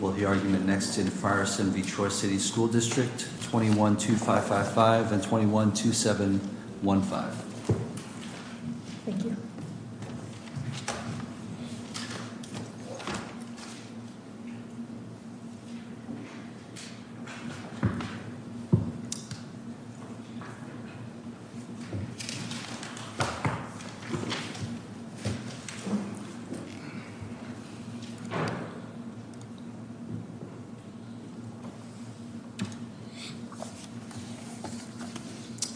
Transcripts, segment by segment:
21-2555 and 21-2715.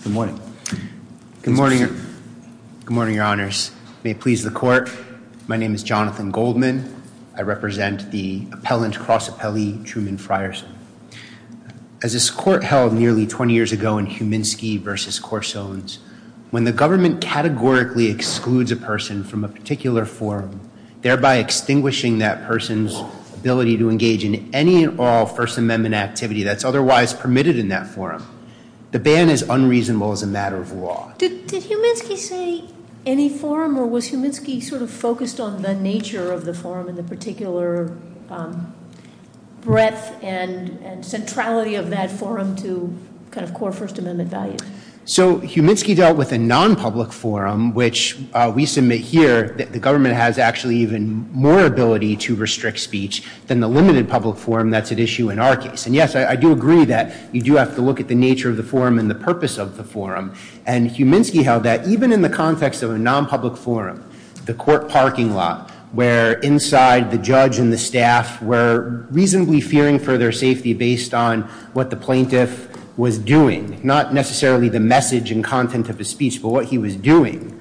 Good morning. Good morning. Good morning, your honors. May it please the court. My name is Jonathan Goldman. I represent the appellant cross appellee Truman Frierson. As this court held nearly 20 years ago in Huminski v. Coursones, when the government categorically excludes a person from a particular forum, thereby extinguishing that person's ability to engage in any and all First Amendment activity that's otherwise permitted in that forum, the ban is unreasonable as a matter of law. Did Huminski say any forum or was Huminski sort of focused on the nature of the forum and the particular breadth and centrality of that forum to kind of core First Amendment values? So Huminski dealt with a nonpublic forum, which we submit here that the government has actually even more ability to restrict speech than the limited public forum that's at issue in our case. And yes, I do agree that you do have to look at the nature of the forum and the purpose of the forum. And Huminski held that even in the context of a nonpublic forum, the court parking lot, where inside the judge and the staff were reasonably fearing for their safety based on what the plaintiff was doing, not necessarily the message and content of his speech, but what he was doing,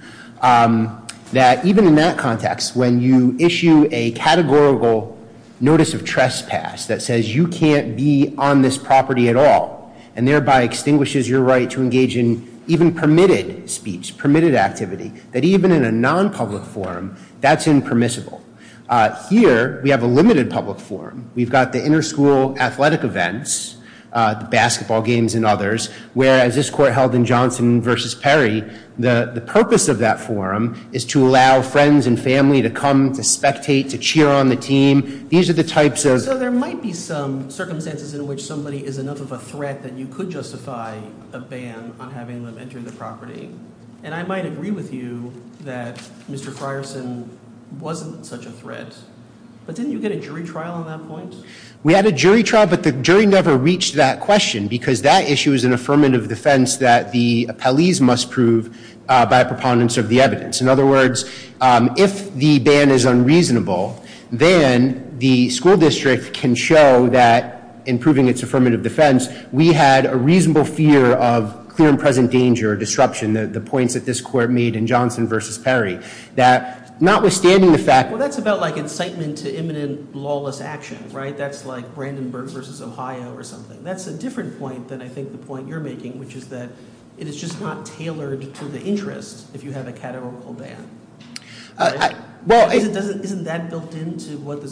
that even in that context, when you issue a categorical notice of trespass that says you can't be on this property at all and thereby extinguishes your right to engage in even permitted speech, permitted activity, that even in a nonpublic forum, that's impermissible. Here, we have a limited public forum. We've got the interschool athletic events, the basketball games and others, whereas this court held in Johnson v. Perry, the purpose of that forum is to allow friends and family to come to spectate, to cheer on the team. These are the types of So there might be some circumstances in which somebody is enough of a threat that you could justify a ban on having them enter the property. And I might agree with you that Mr. Frierson wasn't such a threat. But didn't you get a jury trial on that point? We had a jury trial, but the jury never reached that question because that issue is an affirmative defense that the appellees must prove by preponderance of the evidence. In other words, if the ban is unreasonable, then the school district can show that in proving its affirmative defense, we had a reasonable fear of clear and present danger or disruption, the points that this court made in Johnson v. Perry, that notwithstanding the fact Well, that's about like incitement to imminent lawless actions, right? That's like Brandenburg v. Ohio or something. That's a different point than I think the point you're making, which is that it is just not tailored to the interest if you have a categorical ban. Well, Isn't that built into what the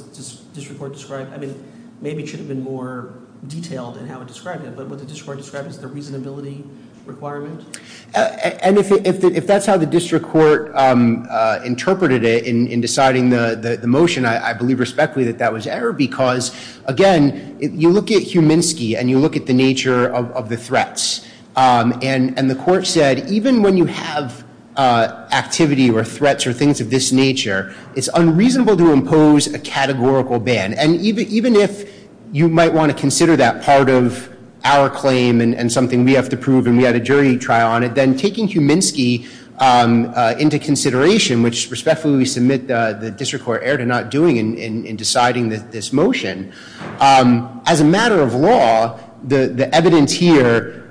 district court described? I mean, maybe it should have been more detailed in how it described it, but what the district court described is the reasonability requirement? And if that's how the district court interpreted it in deciding the motion, I believe respectfully that that was error because, again, you look at Huminski and you look at the nature of the threats. And the court said, even when you have activity or threats or things of this nature, it's unreasonable to impose a categorical ban. And even if you might want to consider that part of our claim and something we have to prove, and we had a jury trial on it, then taking Huminski into consideration, which respectfully we submit the district court error to not doing in deciding this motion, as a matter of law, the evidence here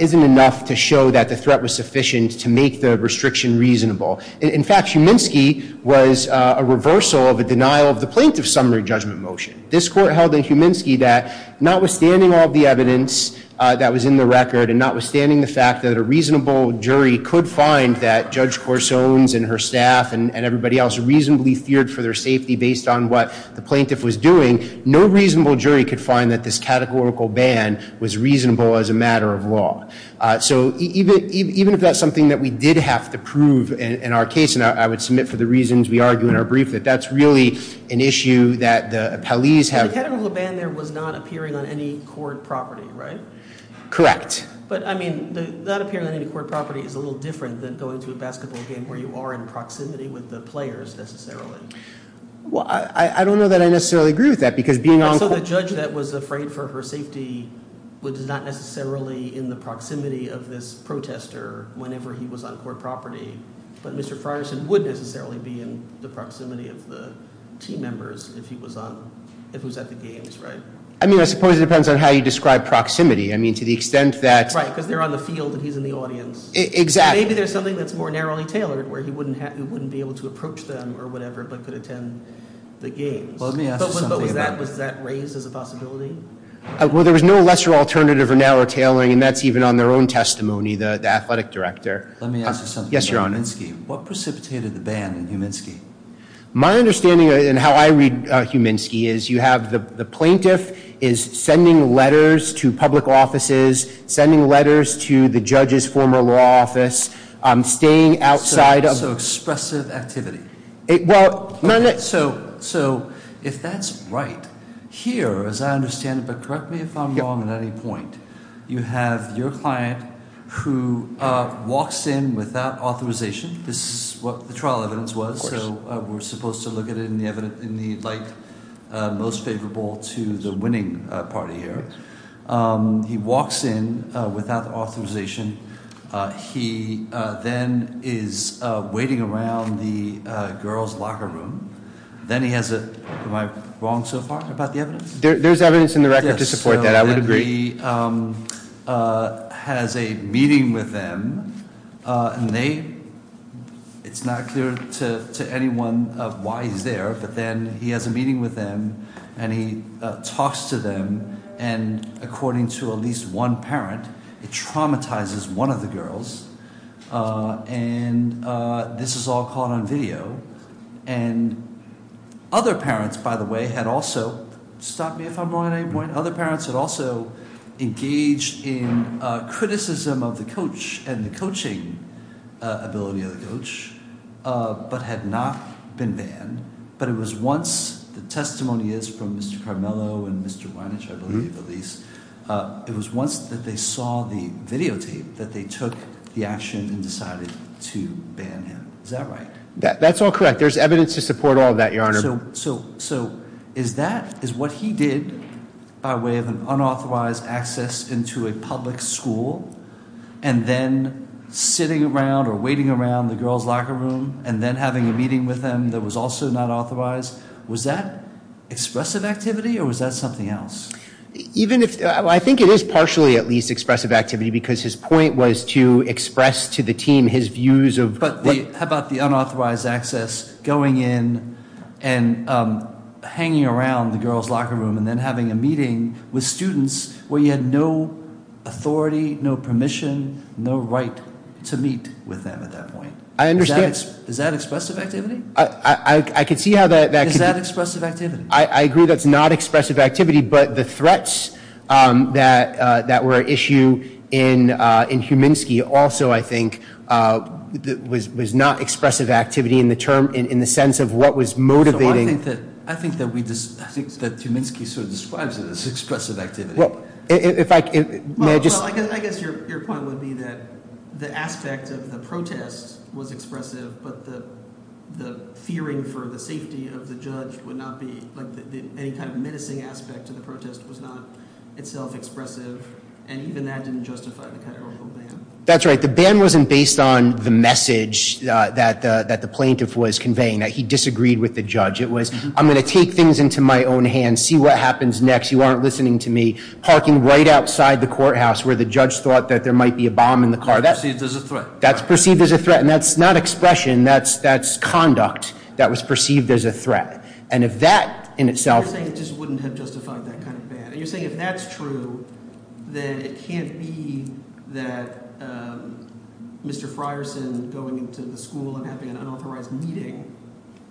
isn't enough to show that the threat was sufficient to make the restriction reasonable. In fact, Huminski was a reversal of a denial of the plaintiff's summary judgment motion. This court held in Huminski that notwithstanding all the evidence that was in the record and notwithstanding the fact that a reasonable jury could find that Judge Corsone's and her staff and everybody else reasonably feared for their safety based on what the plaintiff was doing, no reasonable jury could find that this categorical ban was reasonable as a matter of law. So even if that's something that we did have to prove in our case, and I would submit for the reasons we argue in our brief, that that's really an issue that the appellees have- The categorical ban there was not appearing on any court property, right? Correct. But I mean, not appearing on any court property is a little different than going to a basketball game where you are in proximity with the players, necessarily. Well, I don't know that I necessarily agree with that, because being on- So the judge that was afraid for her safety was not necessarily in the proximity of this protester whenever he was on court property. But Mr. Frierson would necessarily be in the proximity of the team members if he was on – if he was at the games, right? I mean, I suppose it depends on how you describe proximity. I mean, to the extent that- Right, because they're on the field and he's in the audience. Exactly. Maybe there's something that's more narrowly tailored where he wouldn't be able to approach them or whatever but could attend the games. Well, let me ask you something about that. But was that raised as a possibility? Well, there was no lesser alternative or narrow tailoring, and that's even on their own testimony, the athletic director. Let me ask you something. Yes, Your Honor. What precipitated the ban in Huminsky? My understanding and how I read Huminsky is you have the plaintiff is sending letters to public offices, sending letters to the judge's former law office, staying outside of- So expressive activity. So if that's right, here, as I understand it, but correct me if I'm wrong at any point, you have your client who walks in without authorization. This is what the trial evidence was, so we're supposed to look at it in the light most favorable to the winning party here. He walks in without authorization. He then is waiting around the girls' locker room. Then he has a- Am I wrong so far about the evidence? There's evidence in the record to support that. I would agree. He has a meeting with them, and they- It's not clear to anyone why he's there, but then he has a meeting with them, and he talks to them, and according to at least one parent, it traumatizes one of the girls, and this is all caught on video, and other parents, by the way, had also- Stop me if I'm wrong at any point. Other parents had also engaged in criticism of the coach and the coaching ability of the coach but had not been banned, but it was once- They saw the videotape that they took the action and decided to ban him. Is that right? That's all correct. There's evidence to support all of that, Your Honor. So is that- Is what he did by way of an unauthorized access into a public school and then sitting around or waiting around the girls' locker room and then having a meeting with them that was also not authorized, was that expressive activity or was that something else? Even if- I think it is partially at least expressive activity because his point was to express to the team his views of- But how about the unauthorized access going in and hanging around the girls' locker room and then having a meeting with students where you had no authority, no permission, no right to meet with them at that point? I understand- Is that expressive activity? I could see how that- Is that expressive activity? I agree that's not expressive activity, but the threats that were at issue in Huminsky also, I think, was not expressive activity in the sense of what was motivating- I think that we- I think that Huminsky sort of describes it as expressive activity. Well, if I- Well, I guess your point would be that the aspect of the protest was expressive, but the fearing for the safety of the judge would not be- any kind of menacing aspect of the protest was not itself expressive, and even that didn't justify the kind of ban. That's right. The ban wasn't based on the message that the plaintiff was conveying, that he disagreed with the judge. It was, I'm going to take things into my own hands, see what happens next, you aren't listening to me, parking right outside the courthouse where the judge thought that there might be a bomb in the car. That's perceived as a threat. That's perceived as a threat, and that's not expression. That's conduct that was perceived as a threat, and if that in itself- And you're saying if that's true, then it can't be that Mr. Frierson going into the school and having an unauthorized meeting,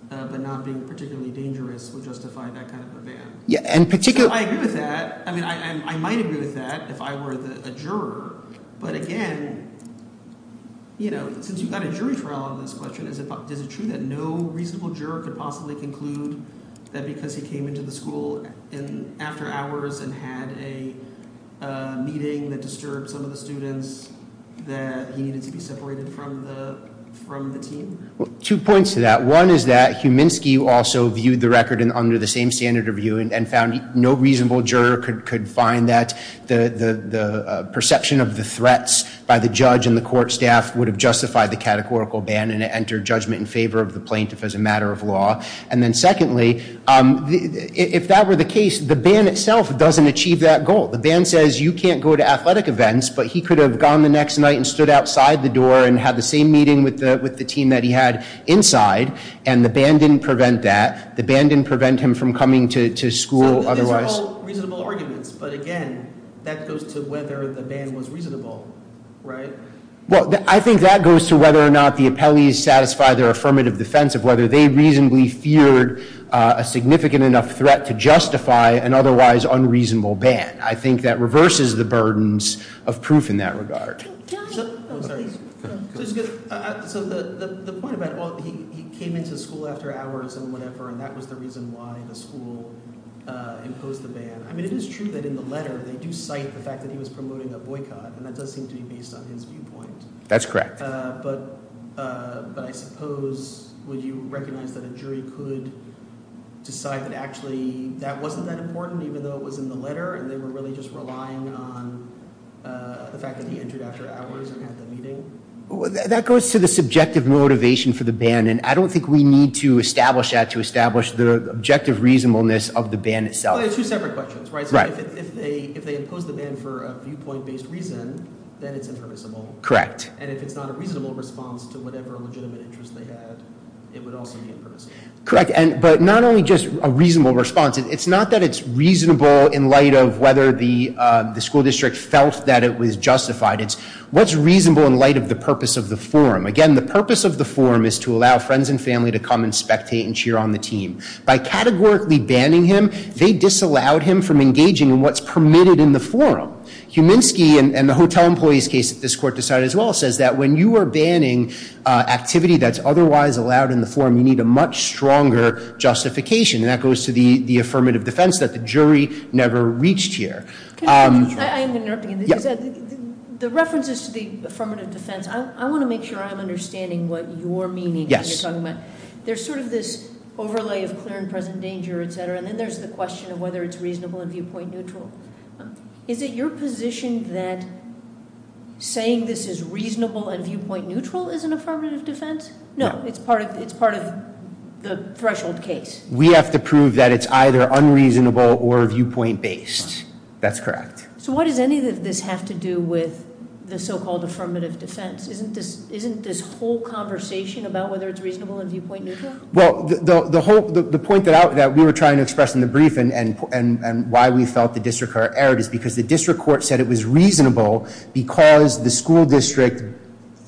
but not being particularly dangerous, would justify that kind of a ban. Yeah, and particularly- Two points to that. One is that Huminski also viewed the record under the same standard of view and found no reasonable juror could find that the perception of the threats by the judge and the court staff would have justified the categorical ban and entered judgment in favor of the plaintiff as a matter of law. And then secondly, if that were the case, the ban itself doesn't achieve that goal. The ban says you can't go to athletic events, but he could have gone the next night and stood outside the door and had the same meeting with the team that he had inside, and the ban didn't prevent that. The ban didn't prevent him from coming to school otherwise. So these are all reasonable arguments, but again, that goes to whether the ban was reasonable, right? Well, I think that goes to whether or not the appellees satisfy their affirmative defense of whether they reasonably feared a significant enough threat to justify an otherwise unreasonable ban. I think that reverses the burdens of proof in that regard. So the point about he came into school after hours and whatever, and that was the reason why the school imposed the ban. I mean, it is true that in the letter they do cite the fact that he was promoting a boycott, and that does seem to be based on his viewpoint. That's correct. But I suppose would you recognize that a jury could decide that actually that wasn't that important, even though it was in the letter, and they were really just relying on the fact that he entered after hours and had the meeting? That goes to the subjective motivation for the ban, and I don't think we need to establish that to establish the objective reasonableness of the ban itself. Well, they're two separate questions, right? Right. So if they impose the ban for a viewpoint-based reason, then it's impermissible. Correct. And if it's not a reasonable response to whatever legitimate interest they had, it would also be impermissible. Correct, but not only just a reasonable response. It's not that it's reasonable in light of whether the school district felt that it was justified. It's what's reasonable in light of the purpose of the forum. Again, the purpose of the forum is to allow friends and family to come and spectate and cheer on the team. By categorically banning him, they disallowed him from engaging in what's permitted in the forum. Huminski, in the hotel employees case that this court decided as well, says that when you are banning activity that's otherwise allowed in the forum, you need a much stronger justification. And that goes to the affirmative defense that the jury never reached here. Can I interrupt? I am going to interrupt again. The references to the affirmative defense, I want to make sure I'm understanding what you're meaning when you're talking about it. Yes. There's sort of this overlay of clear and present danger, etc., and then there's the question of whether it's reasonable and viewpoint neutral. Is it your position that saying this is reasonable and viewpoint neutral is an affirmative defense? No, it's part of the threshold case. We have to prove that it's either unreasonable or viewpoint based. That's correct. So what does any of this have to do with the so-called affirmative defense? Isn't this whole conversation about whether it's reasonable and viewpoint neutral? Well, the point that we were trying to express in the brief and why we felt the district court erred is because the district court said it was reasonable because the school district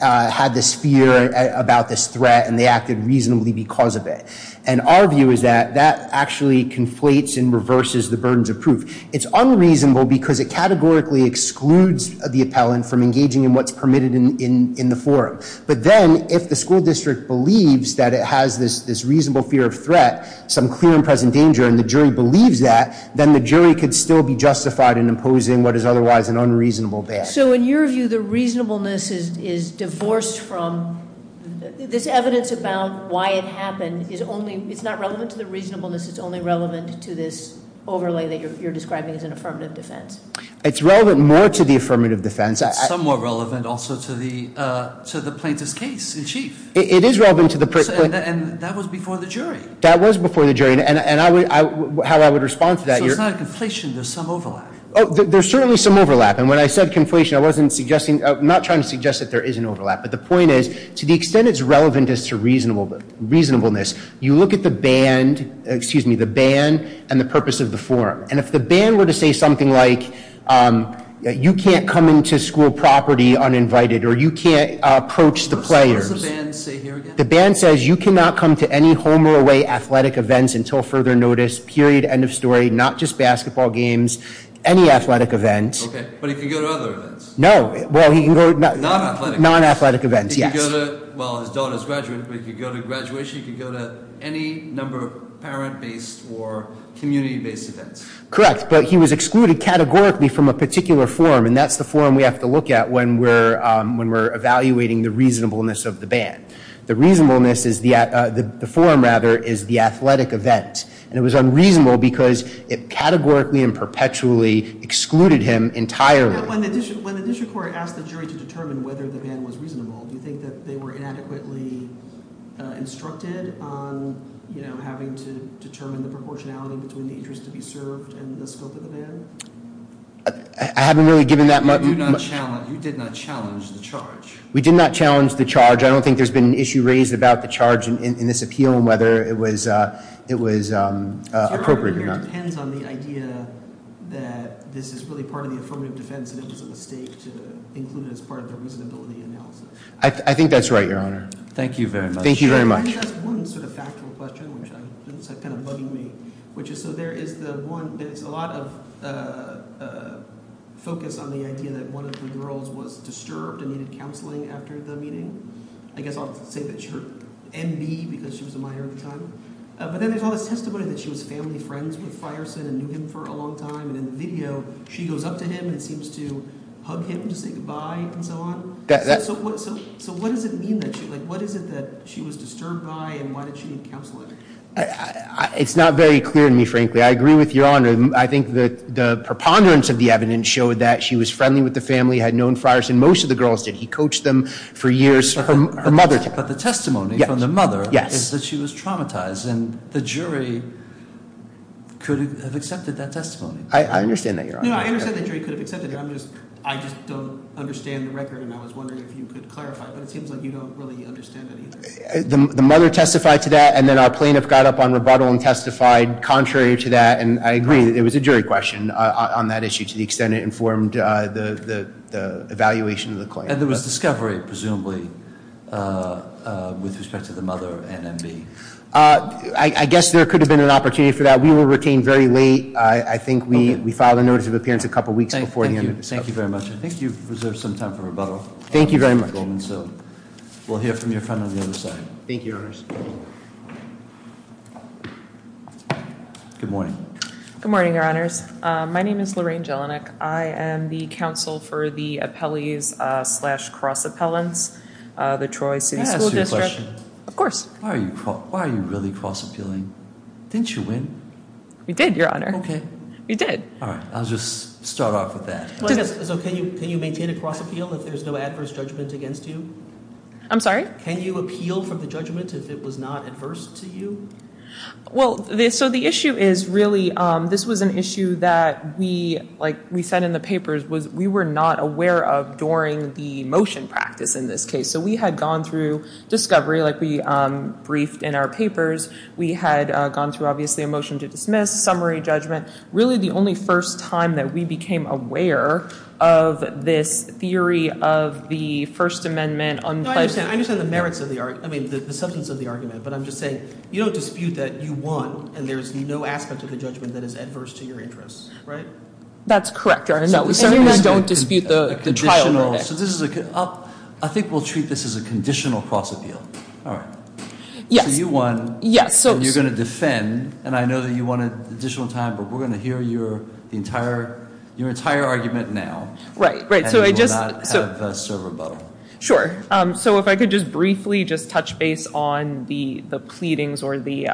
had this fear about this threat and they acted reasonably because of it. And our view is that that actually conflates and reverses the burdens of proof. It's unreasonable because it categorically excludes the appellant from engaging in what's permitted in the forum. But then, if the school district believes that it has this reasonable fear of threat, some clear and present danger, and the jury believes that, then the jury could still be justified in imposing what is otherwise an unreasonable badge. So in your view, the reasonableness is divorced from, this evidence about why it happened, it's not relevant to the reasonableness, it's only relevant to this overlay that you're describing as an affirmative defense. It's relevant more to the affirmative defense. It's somewhat relevant also to the plaintiff's case in chief. It is relevant to the- And that was before the jury. That was before the jury. And how I would respond to that, your- So it's not a conflation, there's some overlap. Oh, there's certainly some overlap. And when I said conflation, I wasn't suggesting, I'm not trying to suggest that there is an overlap. But the point is, to the extent it's relevant as to reasonableness, you look at the band and the purpose of the forum. And if the band were to say something like, you can't come into school property uninvited, or you can't approach the players. What does the band say here again? The band says, you cannot come to any home or away athletic events until further notice, period, end of story. Not just basketball games, any athletic event. Okay, but he can go to other events. No, well he can go- Non-athletic. Non-athletic events, yes. Well, his daughter's graduating, but he can go to graduation, he can go to any number of parent-based or community-based events. Correct, but he was excluded categorically from a particular forum. And that's the forum we have to look at when we're evaluating the reasonableness of the band. The reasonableness is, the forum, rather, is the athletic event. And it was unreasonable because it categorically and perpetually excluded him entirely. When the district court asked the jury to determine whether the band was reasonable, do you think that they were inadequately instructed on having to determine the proportionality between the interest to be served and the scope of the band? I haven't really given that much- You did not challenge the charge. We did not challenge the charge. I don't think there's been an issue raised about the charge in this appeal and whether it was appropriate or not. I think it depends on the idea that this is really part of the affirmative defense and it was a mistake to include it as part of the reasonability analysis. I think that's right, Your Honor. Thank you very much. Thank you very much. I think that's one sort of factual question, which is kind of bugging me. So there is the one, there's a lot of focus on the idea that one of the girls was disturbed and needed counseling after the meeting. I guess I'll say that she heard MB because she was a minor at the time. But then there's all this testimony that she was family friends with Frierson and knew him for a long time. And in the video, she goes up to him and seems to hug him to say goodbye and so on. So what does it mean that she was disturbed by and why did she need counseling? It's not very clear to me, frankly. I agree with Your Honor. I think the preponderance of the evidence showed that she was friendly with the family, had known Frierson. Most of the girls did. He coached them for years. Her mother did. But the testimony from the mother is that she was traumatized. And the jury could have accepted that testimony. I understand that, Your Honor. No, I understand the jury could have accepted it. I just don't understand the record and I was wondering if you could clarify. But it seems like you don't really understand it either. The mother testified to that and then our plaintiff got up on rebuttal and testified contrary to that. And I agree that it was a jury question on that issue to the extent it informed the evaluation of the claim. And there was discovery, presumably, with respect to the mother and MB. I guess there could have been an opportunity for that. We will retain very late. I think we filed a notice of appearance a couple weeks before the end of the testimony. Thank you very much. I think you've reserved some time for rebuttal. Thank you very much. So we'll hear from your friend on the other side. Thank you, Your Honors. Good morning. Good morning, Your Honors. My name is Lorraine Jelinek. I am the counsel for the appellees slash cross appellants, the Troy City School District. Can I ask you a question? Of course. Why are you really cross appealing? Didn't you win? We did, Your Honor. Okay. We did. All right. I'll just start off with that. So can you maintain a cross appeal if there's no adverse judgment against you? I'm sorry? Can you appeal for the judgment if it was not adverse to you? Well, so the issue is really this was an issue that we, like we said in the papers, was we were not aware of during the motion practice in this case. So we had gone through discovery, like we briefed in our papers. We had gone through, obviously, a motion to dismiss, summary judgment. Really the only first time that we became aware of this theory of the First Amendment. No, I understand. I understand the merits of the argument, I mean the substance of the argument. But I'm just saying you don't dispute that you won and there's no aspect of the judgment that is adverse to your interests. Right? That's correct, Your Honor. No, we certainly don't dispute the trial verdict. I think we'll treat this as a conditional cross appeal. All right. Yes. So you won. Yes. So you're going to defend. And I know that you wanted additional time, but we're going to hear your entire argument now. Right. Right. So I just. And we will not have a server battle. Sure. So if I could just briefly just touch base on the pleadings or the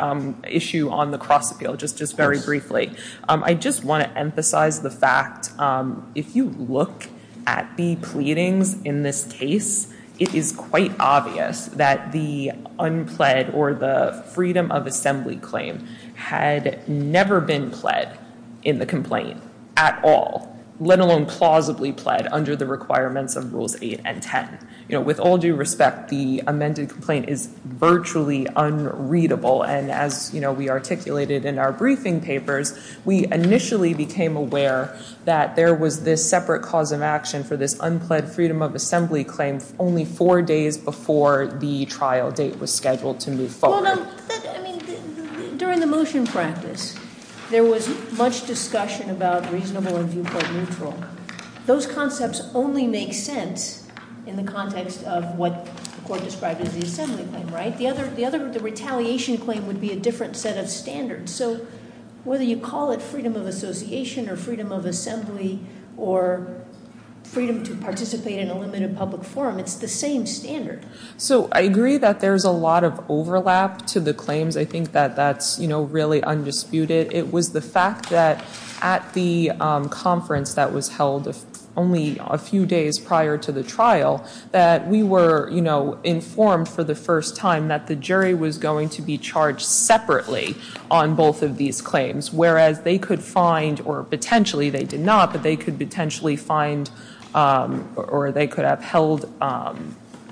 issue on the cross appeal, just very briefly. Yes. I just want to emphasize the fact, if you look at the pleadings in this case, it is quite obvious that the unpled or the freedom of assembly claim had never been pled in the complaint at all, let alone plausibly pled under the requirements of Rules 8 and 10. With all due respect, the amended complaint is virtually unreadable, and as we articulated in our briefing papers, we initially became aware that there was this separate cause of action for this unpled freedom of assembly claim only four days before the trial date was scheduled to move forward. During the motion practice, there was much discussion about reasonable and viewpoint neutral. Those concepts only make sense in the context of what the court described as the assembly claim, right? The retaliation claim would be a different set of standards. So whether you call it freedom of association or freedom of assembly or freedom to participate in a limited public forum, it's the same standard. So I agree that there's a lot of overlap to the claims. I think that that's really undisputed. It was the fact that at the conference that was held only a few days prior to the trial that we were informed for the first time that the jury was going to be charged separately on both of these claims, whereas they could find, or potentially they did not, but they could potentially find, or they could have held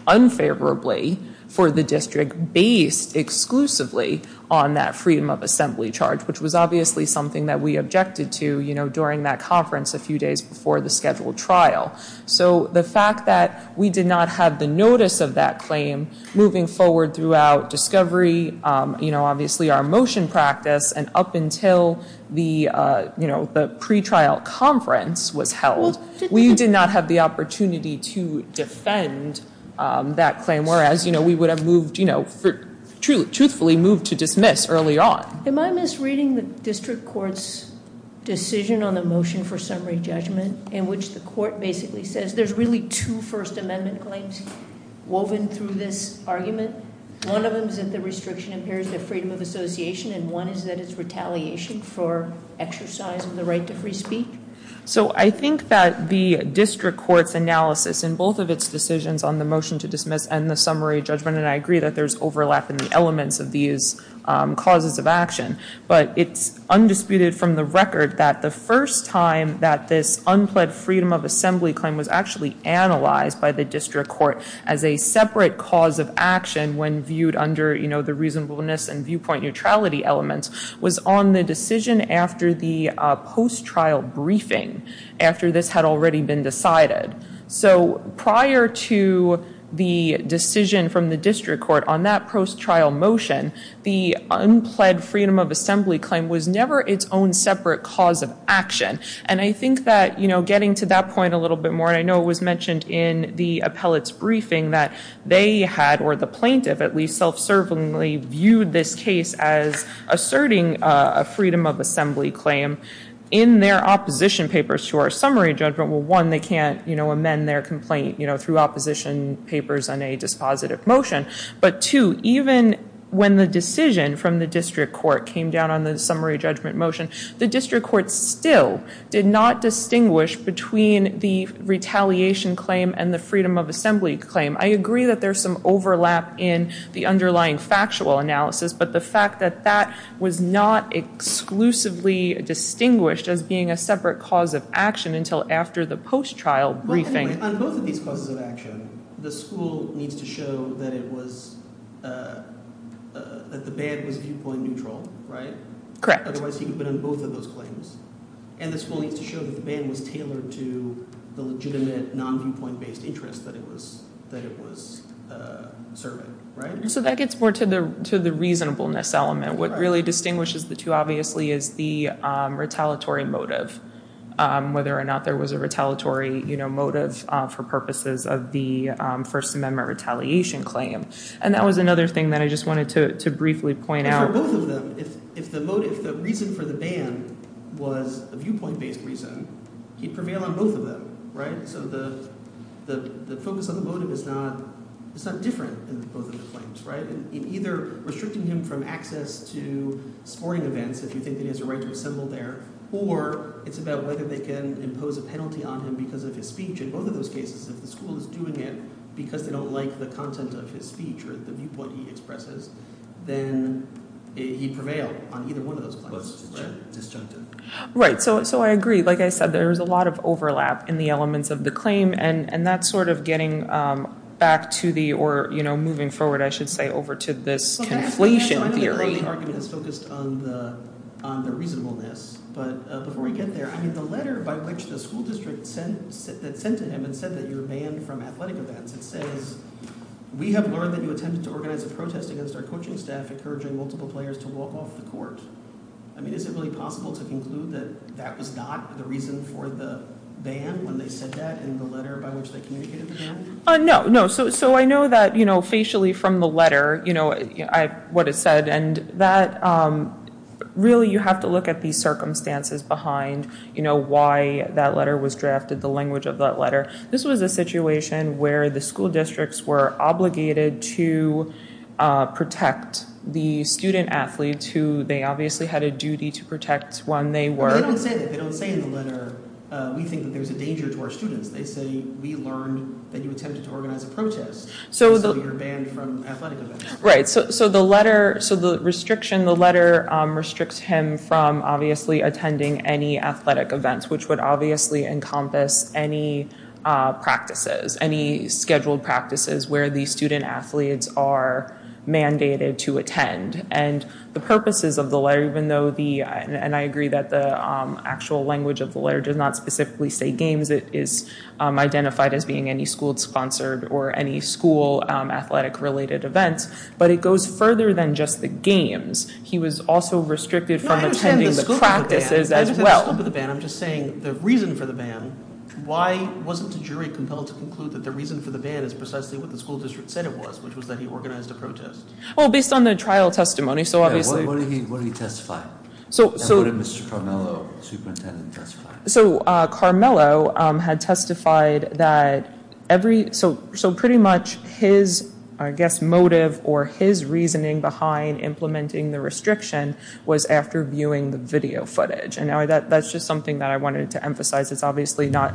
unfavorably for the district based exclusively on that freedom of assembly charge, which was obviously something that we objected to during that conference a few days before the scheduled trial. So the fact that we did not have the notice of that claim moving forward throughout discovery, obviously our motion practice, and up until the pre-trial conference was held, we did not have the opportunity to defend that claim, whereas we would have truthfully moved to dismiss early on. Am I misreading the district court's decision on the motion for summary judgment, in which the court basically says there's really two First Amendment claims woven through this argument? One of them is that the restriction impairs the freedom of association, and one is that it's retaliation for exercise of the right to free speak? So I think that the district court's analysis in both of its decisions on the motion to dismiss and the summary judgment, and I agree that there's overlap in the elements of these causes of action, but it's undisputed from the record that the first time that this unpled freedom of assembly claim was actually analyzed by the district court as a separate cause of action, when viewed under the reasonableness and viewpoint neutrality elements, was on the decision after the post-trial briefing, after this had already been decided. So prior to the decision from the district court on that post-trial motion, the unpled freedom of assembly claim was never its own separate cause of action. And I think that getting to that point a little bit more, and I know it was mentioned in the appellate's briefing that they had, or the plaintiff at least, self-servingly viewed this case as asserting a freedom of assembly claim in their opposition papers to our summary judgment. Well, one, they can't amend their complaint through opposition papers on a dispositive motion, but two, even when the decision from the district court came down on the summary judgment motion, the district court still did not distinguish between the retaliation claim and the freedom of assembly claim. I agree that there's some overlap in the underlying factual analysis, but the fact that that was not exclusively distinguished as being a separate cause of action until after the post-trial briefing. On both of these causes of action, the school needs to show that it was, that the bad was viewpoint neutral, right? Correct. Otherwise he could have been on both of those claims. And the school needs to show that the bad was tailored to the legitimate non-viewpoint based interest that it was serving, right? So that gets more to the reasonableness element. What really distinguishes the two, obviously, is the retaliatory motive, whether or not there was a retaliatory motive for purposes of the First Amendment retaliation claim. And that was another thing that I just wanted to briefly point out. For both of them, if the motive, if the reason for the ban was a viewpoint based reason, he'd prevail on both of them, right? So the focus on the motive is not different in both of the claims, right? In either restricting him from access to sporting events if you think he has a right to assemble there, or it's about whether they can impose a penalty on him because of his speech. In both of those cases, if the school is doing it because they don't like the content of his speech or the viewpoint he expresses, then he'd prevail on either one of those claims, right? Right, so I agree. Like I said, there's a lot of overlap in the elements of the claim, and that's sort of getting back to the – or moving forward, I should say, over to this conflation theory. I know the early argument is focused on the reasonableness, but before we get there, I mean the letter by which the school district sent to him and said that you're banned from athletic events, it says, we have learned that you attempted to organize a protest against our coaching staff encouraging multiple players to walk off the court. I mean is it really possible to conclude that that was not the reason for the ban when they said that in the letter by which they communicated the ban? No, no, so I know that facially from the letter, what it said, and that really you have to look at the circumstances behind why that letter was drafted, the language of that letter. This was a situation where the school districts were obligated to protect the student-athletes who they obviously had a duty to protect when they were – But they don't say that. They don't say in the letter, we think that there's a danger to our students. They say, we learned that you attempted to organize a protest, so you're banned from athletic events. Right, so the letter, so the restriction, the letter restricts him from obviously attending any athletic events, which would obviously encompass any practices, any scheduled practices where the student-athletes are mandated to attend. And the purposes of the letter, even though the, and I agree that the actual language of the letter does not specifically say games, because it is identified as being any school-sponsored or any school-athletic-related events, but it goes further than just the games. He was also restricted from attending the practices as well. I understand the scope of the ban. I'm just saying the reason for the ban, why wasn't the jury compelled to conclude that the reason for the ban is precisely what the school district said it was, which was that he organized a protest? Well, based on the trial testimony, so obviously – What did he testify? And what did Mr. Carmelo, superintendent, testify? So Carmelo had testified that every, so pretty much his, I guess, motive or his reasoning behind implementing the restriction was after viewing the video footage. And that's just something that I wanted to emphasize. It's obviously not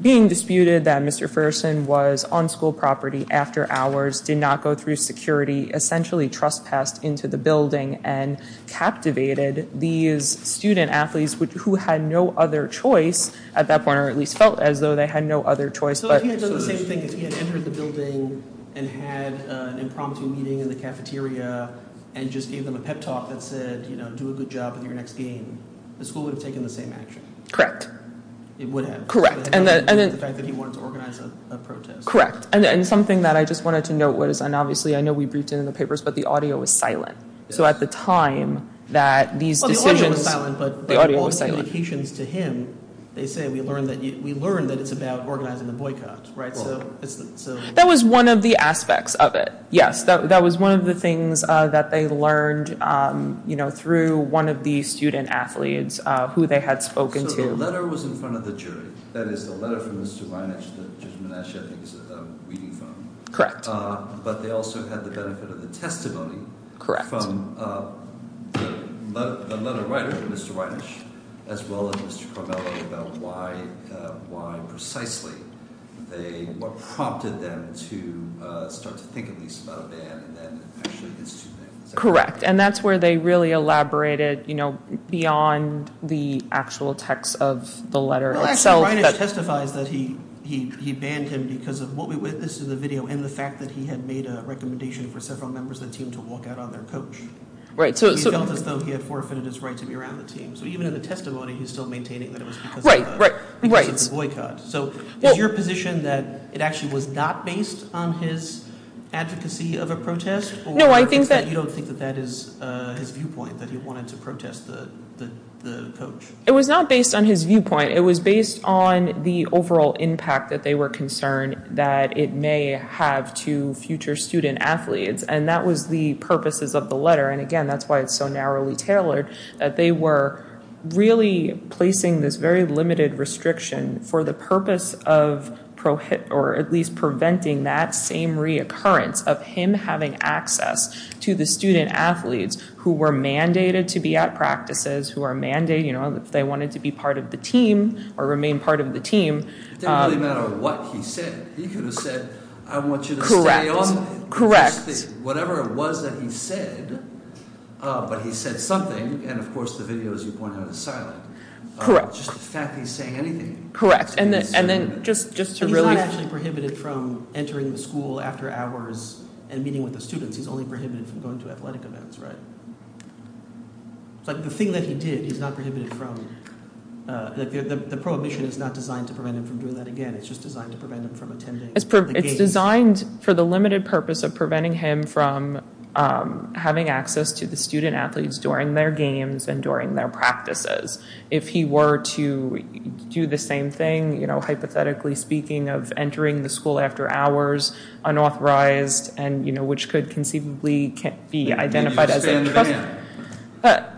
being disputed that Mr. Fersen was on school property after hours, did not go through security, essentially trespassed into the building and captivated these student-athletes who had no other choice at that point, or at least felt as though they had no other choice. So if he had done the same thing, if he had entered the building and had an impromptu meeting in the cafeteria and just gave them a pep talk that said, you know, do a good job with your next game, the school would have taken the same action. Correct. It would have. Correct. And the fact that he wanted to organize a protest. Correct. And something that I just wanted to note was, and obviously I know we briefed it in the papers, but the audio was silent. So at the time that these decisions— Well, the audio was silent. The audio was silent. But all the communications to him, they say, we learned that it's about organizing the boycott, right? That was one of the aspects of it, yes. That was one of the things that they learned, you know, through one of the student-athletes who they had spoken to. So the letter was in front of the jury. That is, the letter from Ms. Zubayneh to Judge Menashe, I think it's a Weedy phone. Correct. But they also had the benefit of the testimony. Correct. From the letter writer, Mr. Reinisch, as well as Mr. Carmelo about why precisely they, what prompted them to start to think at least about a ban and then actually institute it. Correct. And that's where they really elaborated, you know, beyond the actual text of the letter itself. Mr. Reinisch testifies that he banned him because of what we witnessed in the video and the fact that he had made a recommendation for several members of the team to walk out on their coach. He felt as though he had forfeited his right to be around the team. So even in the testimony, he's still maintaining that it was because of the boycott. So is your position that it actually was not based on his advocacy of a protest? No, I think that— Or you don't think that that is his viewpoint, that he wanted to protest the coach? It was not based on his viewpoint. It was based on the overall impact that they were concerned that it may have to future student-athletes, and that was the purposes of the letter. And again, that's why it's so narrowly tailored, that they were really placing this very limited restriction for the purpose of at least preventing that same reoccurrence of him having access to the student-athletes who were mandated to be at practices, who are mandated, you know, they wanted to be part of the team or remain part of the team. It didn't really matter what he said. He could have said, I want you to stay on. Correct. Whatever it was that he said, but he said something, and of course the video, as you pointed out, is silent. Correct. Just the fact that he's saying anything. Correct, and then just to really— He's not actually prohibited from entering the school after hours and meeting with the students. He's only prohibited from going to athletic events, right? The thing that he did, he's not prohibited from—the prohibition is not designed to prevent him from doing that again. It's just designed to prevent him from attending the games. It's designed for the limited purpose of preventing him from having access to the student-athletes during their games and during their practices. If he were to do the same thing, you know, hypothetically speaking, of entering the school after hours, unauthorized, and, you know, which could conceivably be identified as— Maybe you should expand the ban.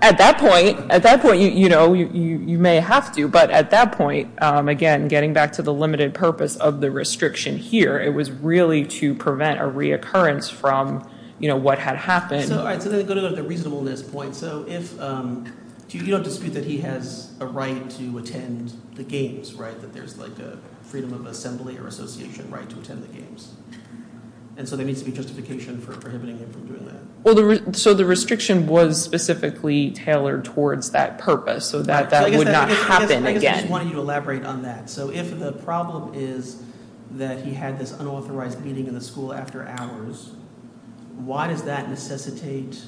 At that point, you know, you may have to, but at that point, again, getting back to the limited purpose of the restriction here, it was really to prevent a reoccurrence from, you know, what had happened. All right, so then go to the reasonableness point. So if—you don't dispute that he has a right to attend the games, right? That there's like a freedom of assembly or association right to attend the games. And so there needs to be justification for prohibiting him from doing that. So the restriction was specifically tailored towards that purpose so that that would not happen again. I guess I just wanted you to elaborate on that. So if the problem is that he had this unauthorized meeting in the school after hours, why does that necessitate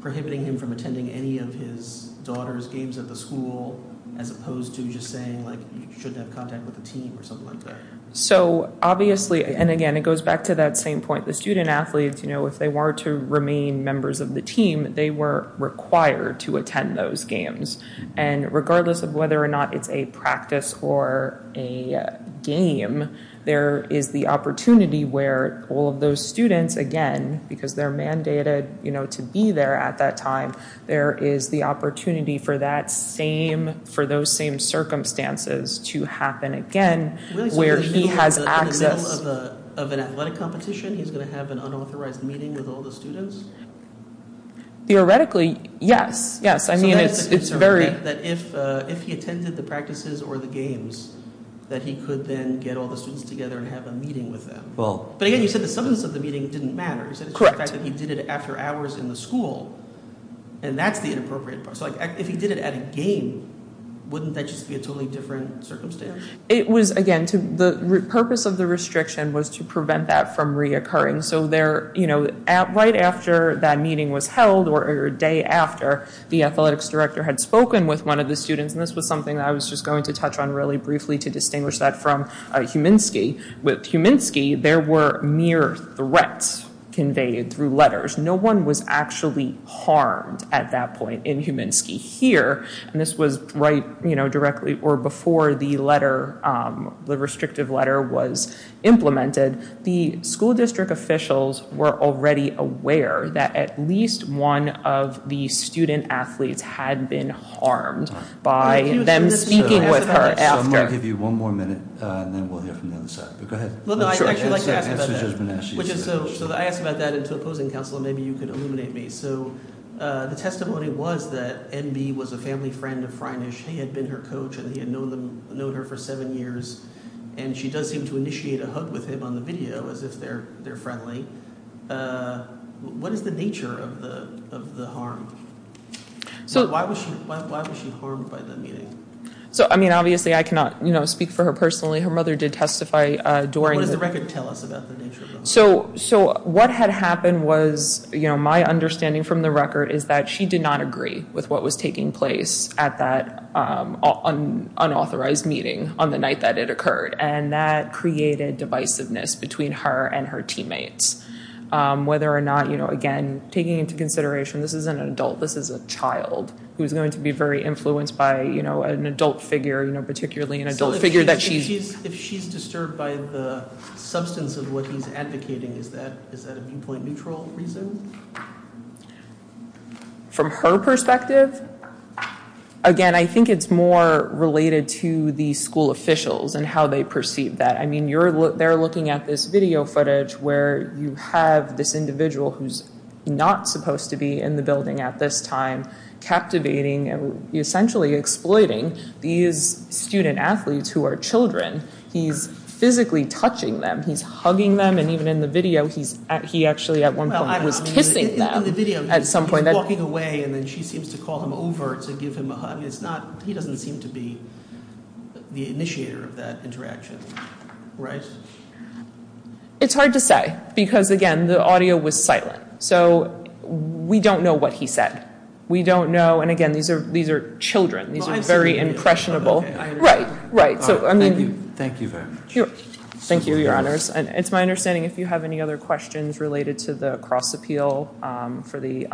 prohibiting him from attending any of his daughter's games at the school as opposed to just saying, like, you shouldn't have contact with the team or something like that? So obviously—and again, it goes back to that same point. The student-athletes, you know, if they were to remain members of the team, they were required to attend those games. And regardless of whether or not it's a practice or a game, there is the opportunity where all of those students, again, because they're mandated, you know, to be there at that time, there is the opportunity for that same—for those same circumstances to happen again where he has access— Really so he's going to be in the middle of an athletic competition? He's going to have an unauthorized meeting with all the students? Theoretically, yes. Yes. I mean, it's very— So that is the concern, that if he attended the practices or the games, that he could then get all the students together and have a meeting with them. Well— But again, you said the substance of the meeting didn't matter. Correct. The fact that he did it after hours in the school, and that's the inappropriate part. So if he did it at a game, wouldn't that just be a totally different circumstance? It was, again, the purpose of the restriction was to prevent that from reoccurring. So there, you know, right after that meeting was held or a day after, the athletics director had spoken with one of the students, and this was something that I was just going to touch on really briefly to distinguish that from Huminsky. With Huminsky, there were mere threats conveyed through letters. No one was actually harmed at that point in Huminsky. Here, and this was right, you know, directly or before the letter, the restrictive letter was implemented, the school district officials were already aware that at least one of the student athletes had been harmed by them speaking with her after. So I'm going to give you one more minute, and then we'll hear from the other side. But go ahead. Well, no, I'd actually like to ask about that. So I asked about that to opposing counsel, and maybe you could illuminate me. So the testimony was that N.B. was a family friend of Freinich. She had been her coach, and he had known her for seven years, and she does seem to initiate a hug with him on the video as if they're friendly. What is the nature of the harm? Why was she harmed by the meeting? So, I mean, obviously I cannot, you know, speak for her personally. Her mother did testify during the— What does the record tell us about the nature of the harm? So what had happened was, you know, my understanding from the record is that she did not agree with what was taking place at that unauthorized meeting on the night that it occurred, and that created divisiveness between her and her teammates. Whether or not, you know, again, taking into consideration this is an adult, this is a child, who is going to be very influenced by, you know, an adult figure, you know, particularly an adult figure that she's— So if she's disturbed by the substance of what he's advocating, is that a viewpoint neutral reason? From her perspective? Again, I think it's more related to the school officials and how they perceive that. I mean, they're looking at this video footage where you have this individual who's not supposed to be in the building at this time, captivating and essentially exploiting these student-athletes who are children. He's physically touching them. He's hugging them, and even in the video, he actually at one point was kissing them. In the video, he's walking away, and then she seems to call him over to give him a hug. It's not—he doesn't seem to be the initiator of that interaction, right? It's hard to say because, again, the audio was silent. So we don't know what he said. We don't know—and again, these are children. These are very impressionable. Right, right. So, I mean— Thank you very much. Thank you, Your Honors. It's my understanding if you have any other questions related to the cross-appeal for the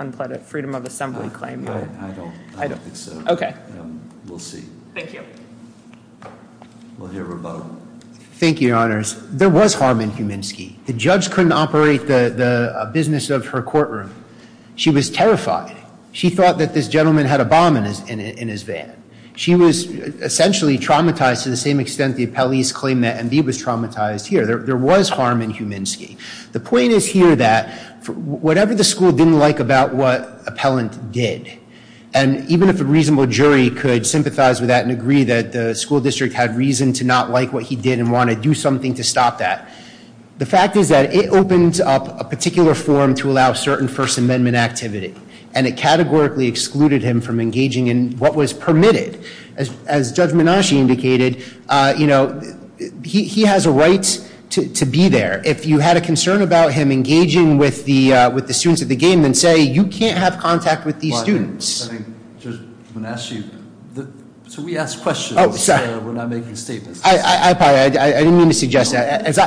Freedom of Assembly claim. I don't think so. Okay. We'll see. Thank you. We'll hear from both. Thank you, Your Honors. There was harm in Huminski. The judge couldn't operate the business of her courtroom. She was terrified. She thought that this gentleman had a bomb in his van. She was essentially traumatized to the same extent the appellees claimed that, and he was traumatized here. There was harm in Huminski. The point is here that whatever the school didn't like about what appellant did, and even if a reasonable jury could sympathize with that and agree that the school district had reason to not like what he did and want to do something to stop that, the fact is that it opens up a particular forum to allow certain First Amendment activity, and it categorically excluded him from engaging in what was permitted. As Judge Menashe indicated, you know, he has a right to be there. If you had a concern about him engaging with the students at the game, then say you can't have contact with these students. I think Judge Menashe, so we ask questions. We're not making statements. I apologize. I didn't mean to suggest that. As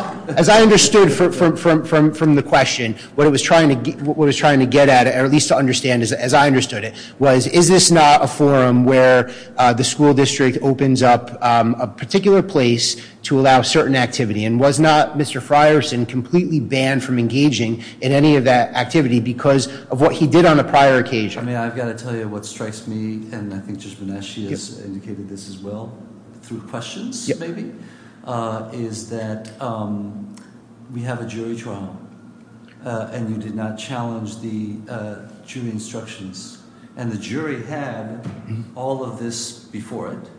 I understood from the question, what I was trying to get at, or at least to understand as I understood it, was is this not a forum where the school district opens up a particular place to allow certain activity, and was not Mr. Frierson completely banned from engaging in any of that activity because of what he did on a prior occasion? I mean, I've got to tell you what strikes me, and I think Judge Menashe has indicated this as well through questions maybe, is that we have a jury trial, and you did not challenge the jury instructions, and the jury had all of this before it.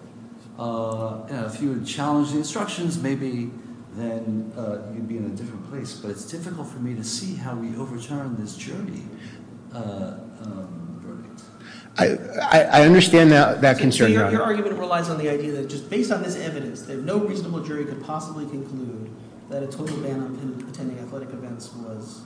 If you had challenged the instructions, maybe then you'd be in a different place, but it's difficult for me to see how we overturn this jury. I understand that concern, Your Honor. So your argument relies on the idea that just based on this evidence, that no reasonable jury could possibly conclude that a total ban on attending athletic events was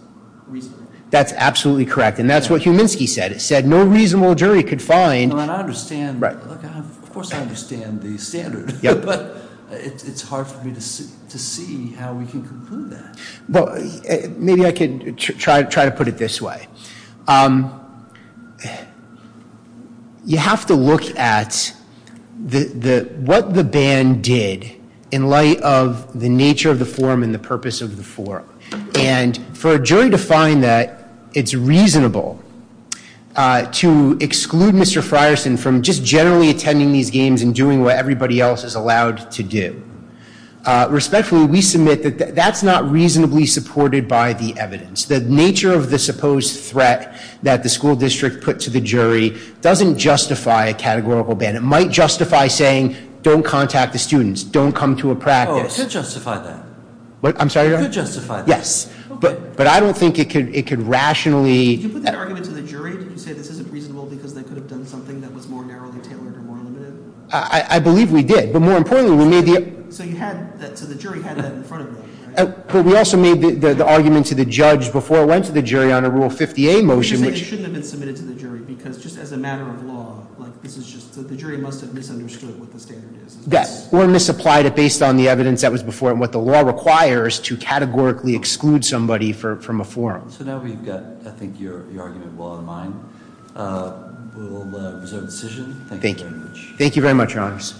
reasonable? That's absolutely correct, and that's what Huminski said. It said no reasonable jury could find— Well, and I understand. Of course I understand the standard, but it's hard for me to see how we can conclude that. Maybe I could try to put it this way. You have to look at what the ban did in light of the nature of the forum and the purpose of the forum, and for a jury to find that it's reasonable to exclude Mr. Frierson from just generally attending these games and doing what everybody else is allowed to do, respectfully, we submit that that's not reasonably supported by the evidence. The nature of the supposed threat that the school district put to the jury doesn't justify a categorical ban. It might justify saying don't contact the students, don't come to a practice. Oh, it could justify that. I'm sorry, Your Honor? It could justify that. Yes, but I don't think it could rationally— Did you put that argument to the jury? Did you say this isn't reasonable because they could have done something that was more narrowly tailored or more limited? I believe we did, but more importantly, we made the— So you had that—so the jury had that in front of them, right? But we also made the argument to the judge before it went to the jury on a Rule 50A motion, which— You're saying it shouldn't have been submitted to the jury because just as a matter of law, like this is just—the jury must have misunderstood what the standard is. Yes, or misapplied it based on the evidence that was before it and what the law requires to categorically exclude somebody from a forum. So now we've got, I think, your argument well in mind. We'll reserve the decision. Thank you very much. Thank you very much, Your Honors.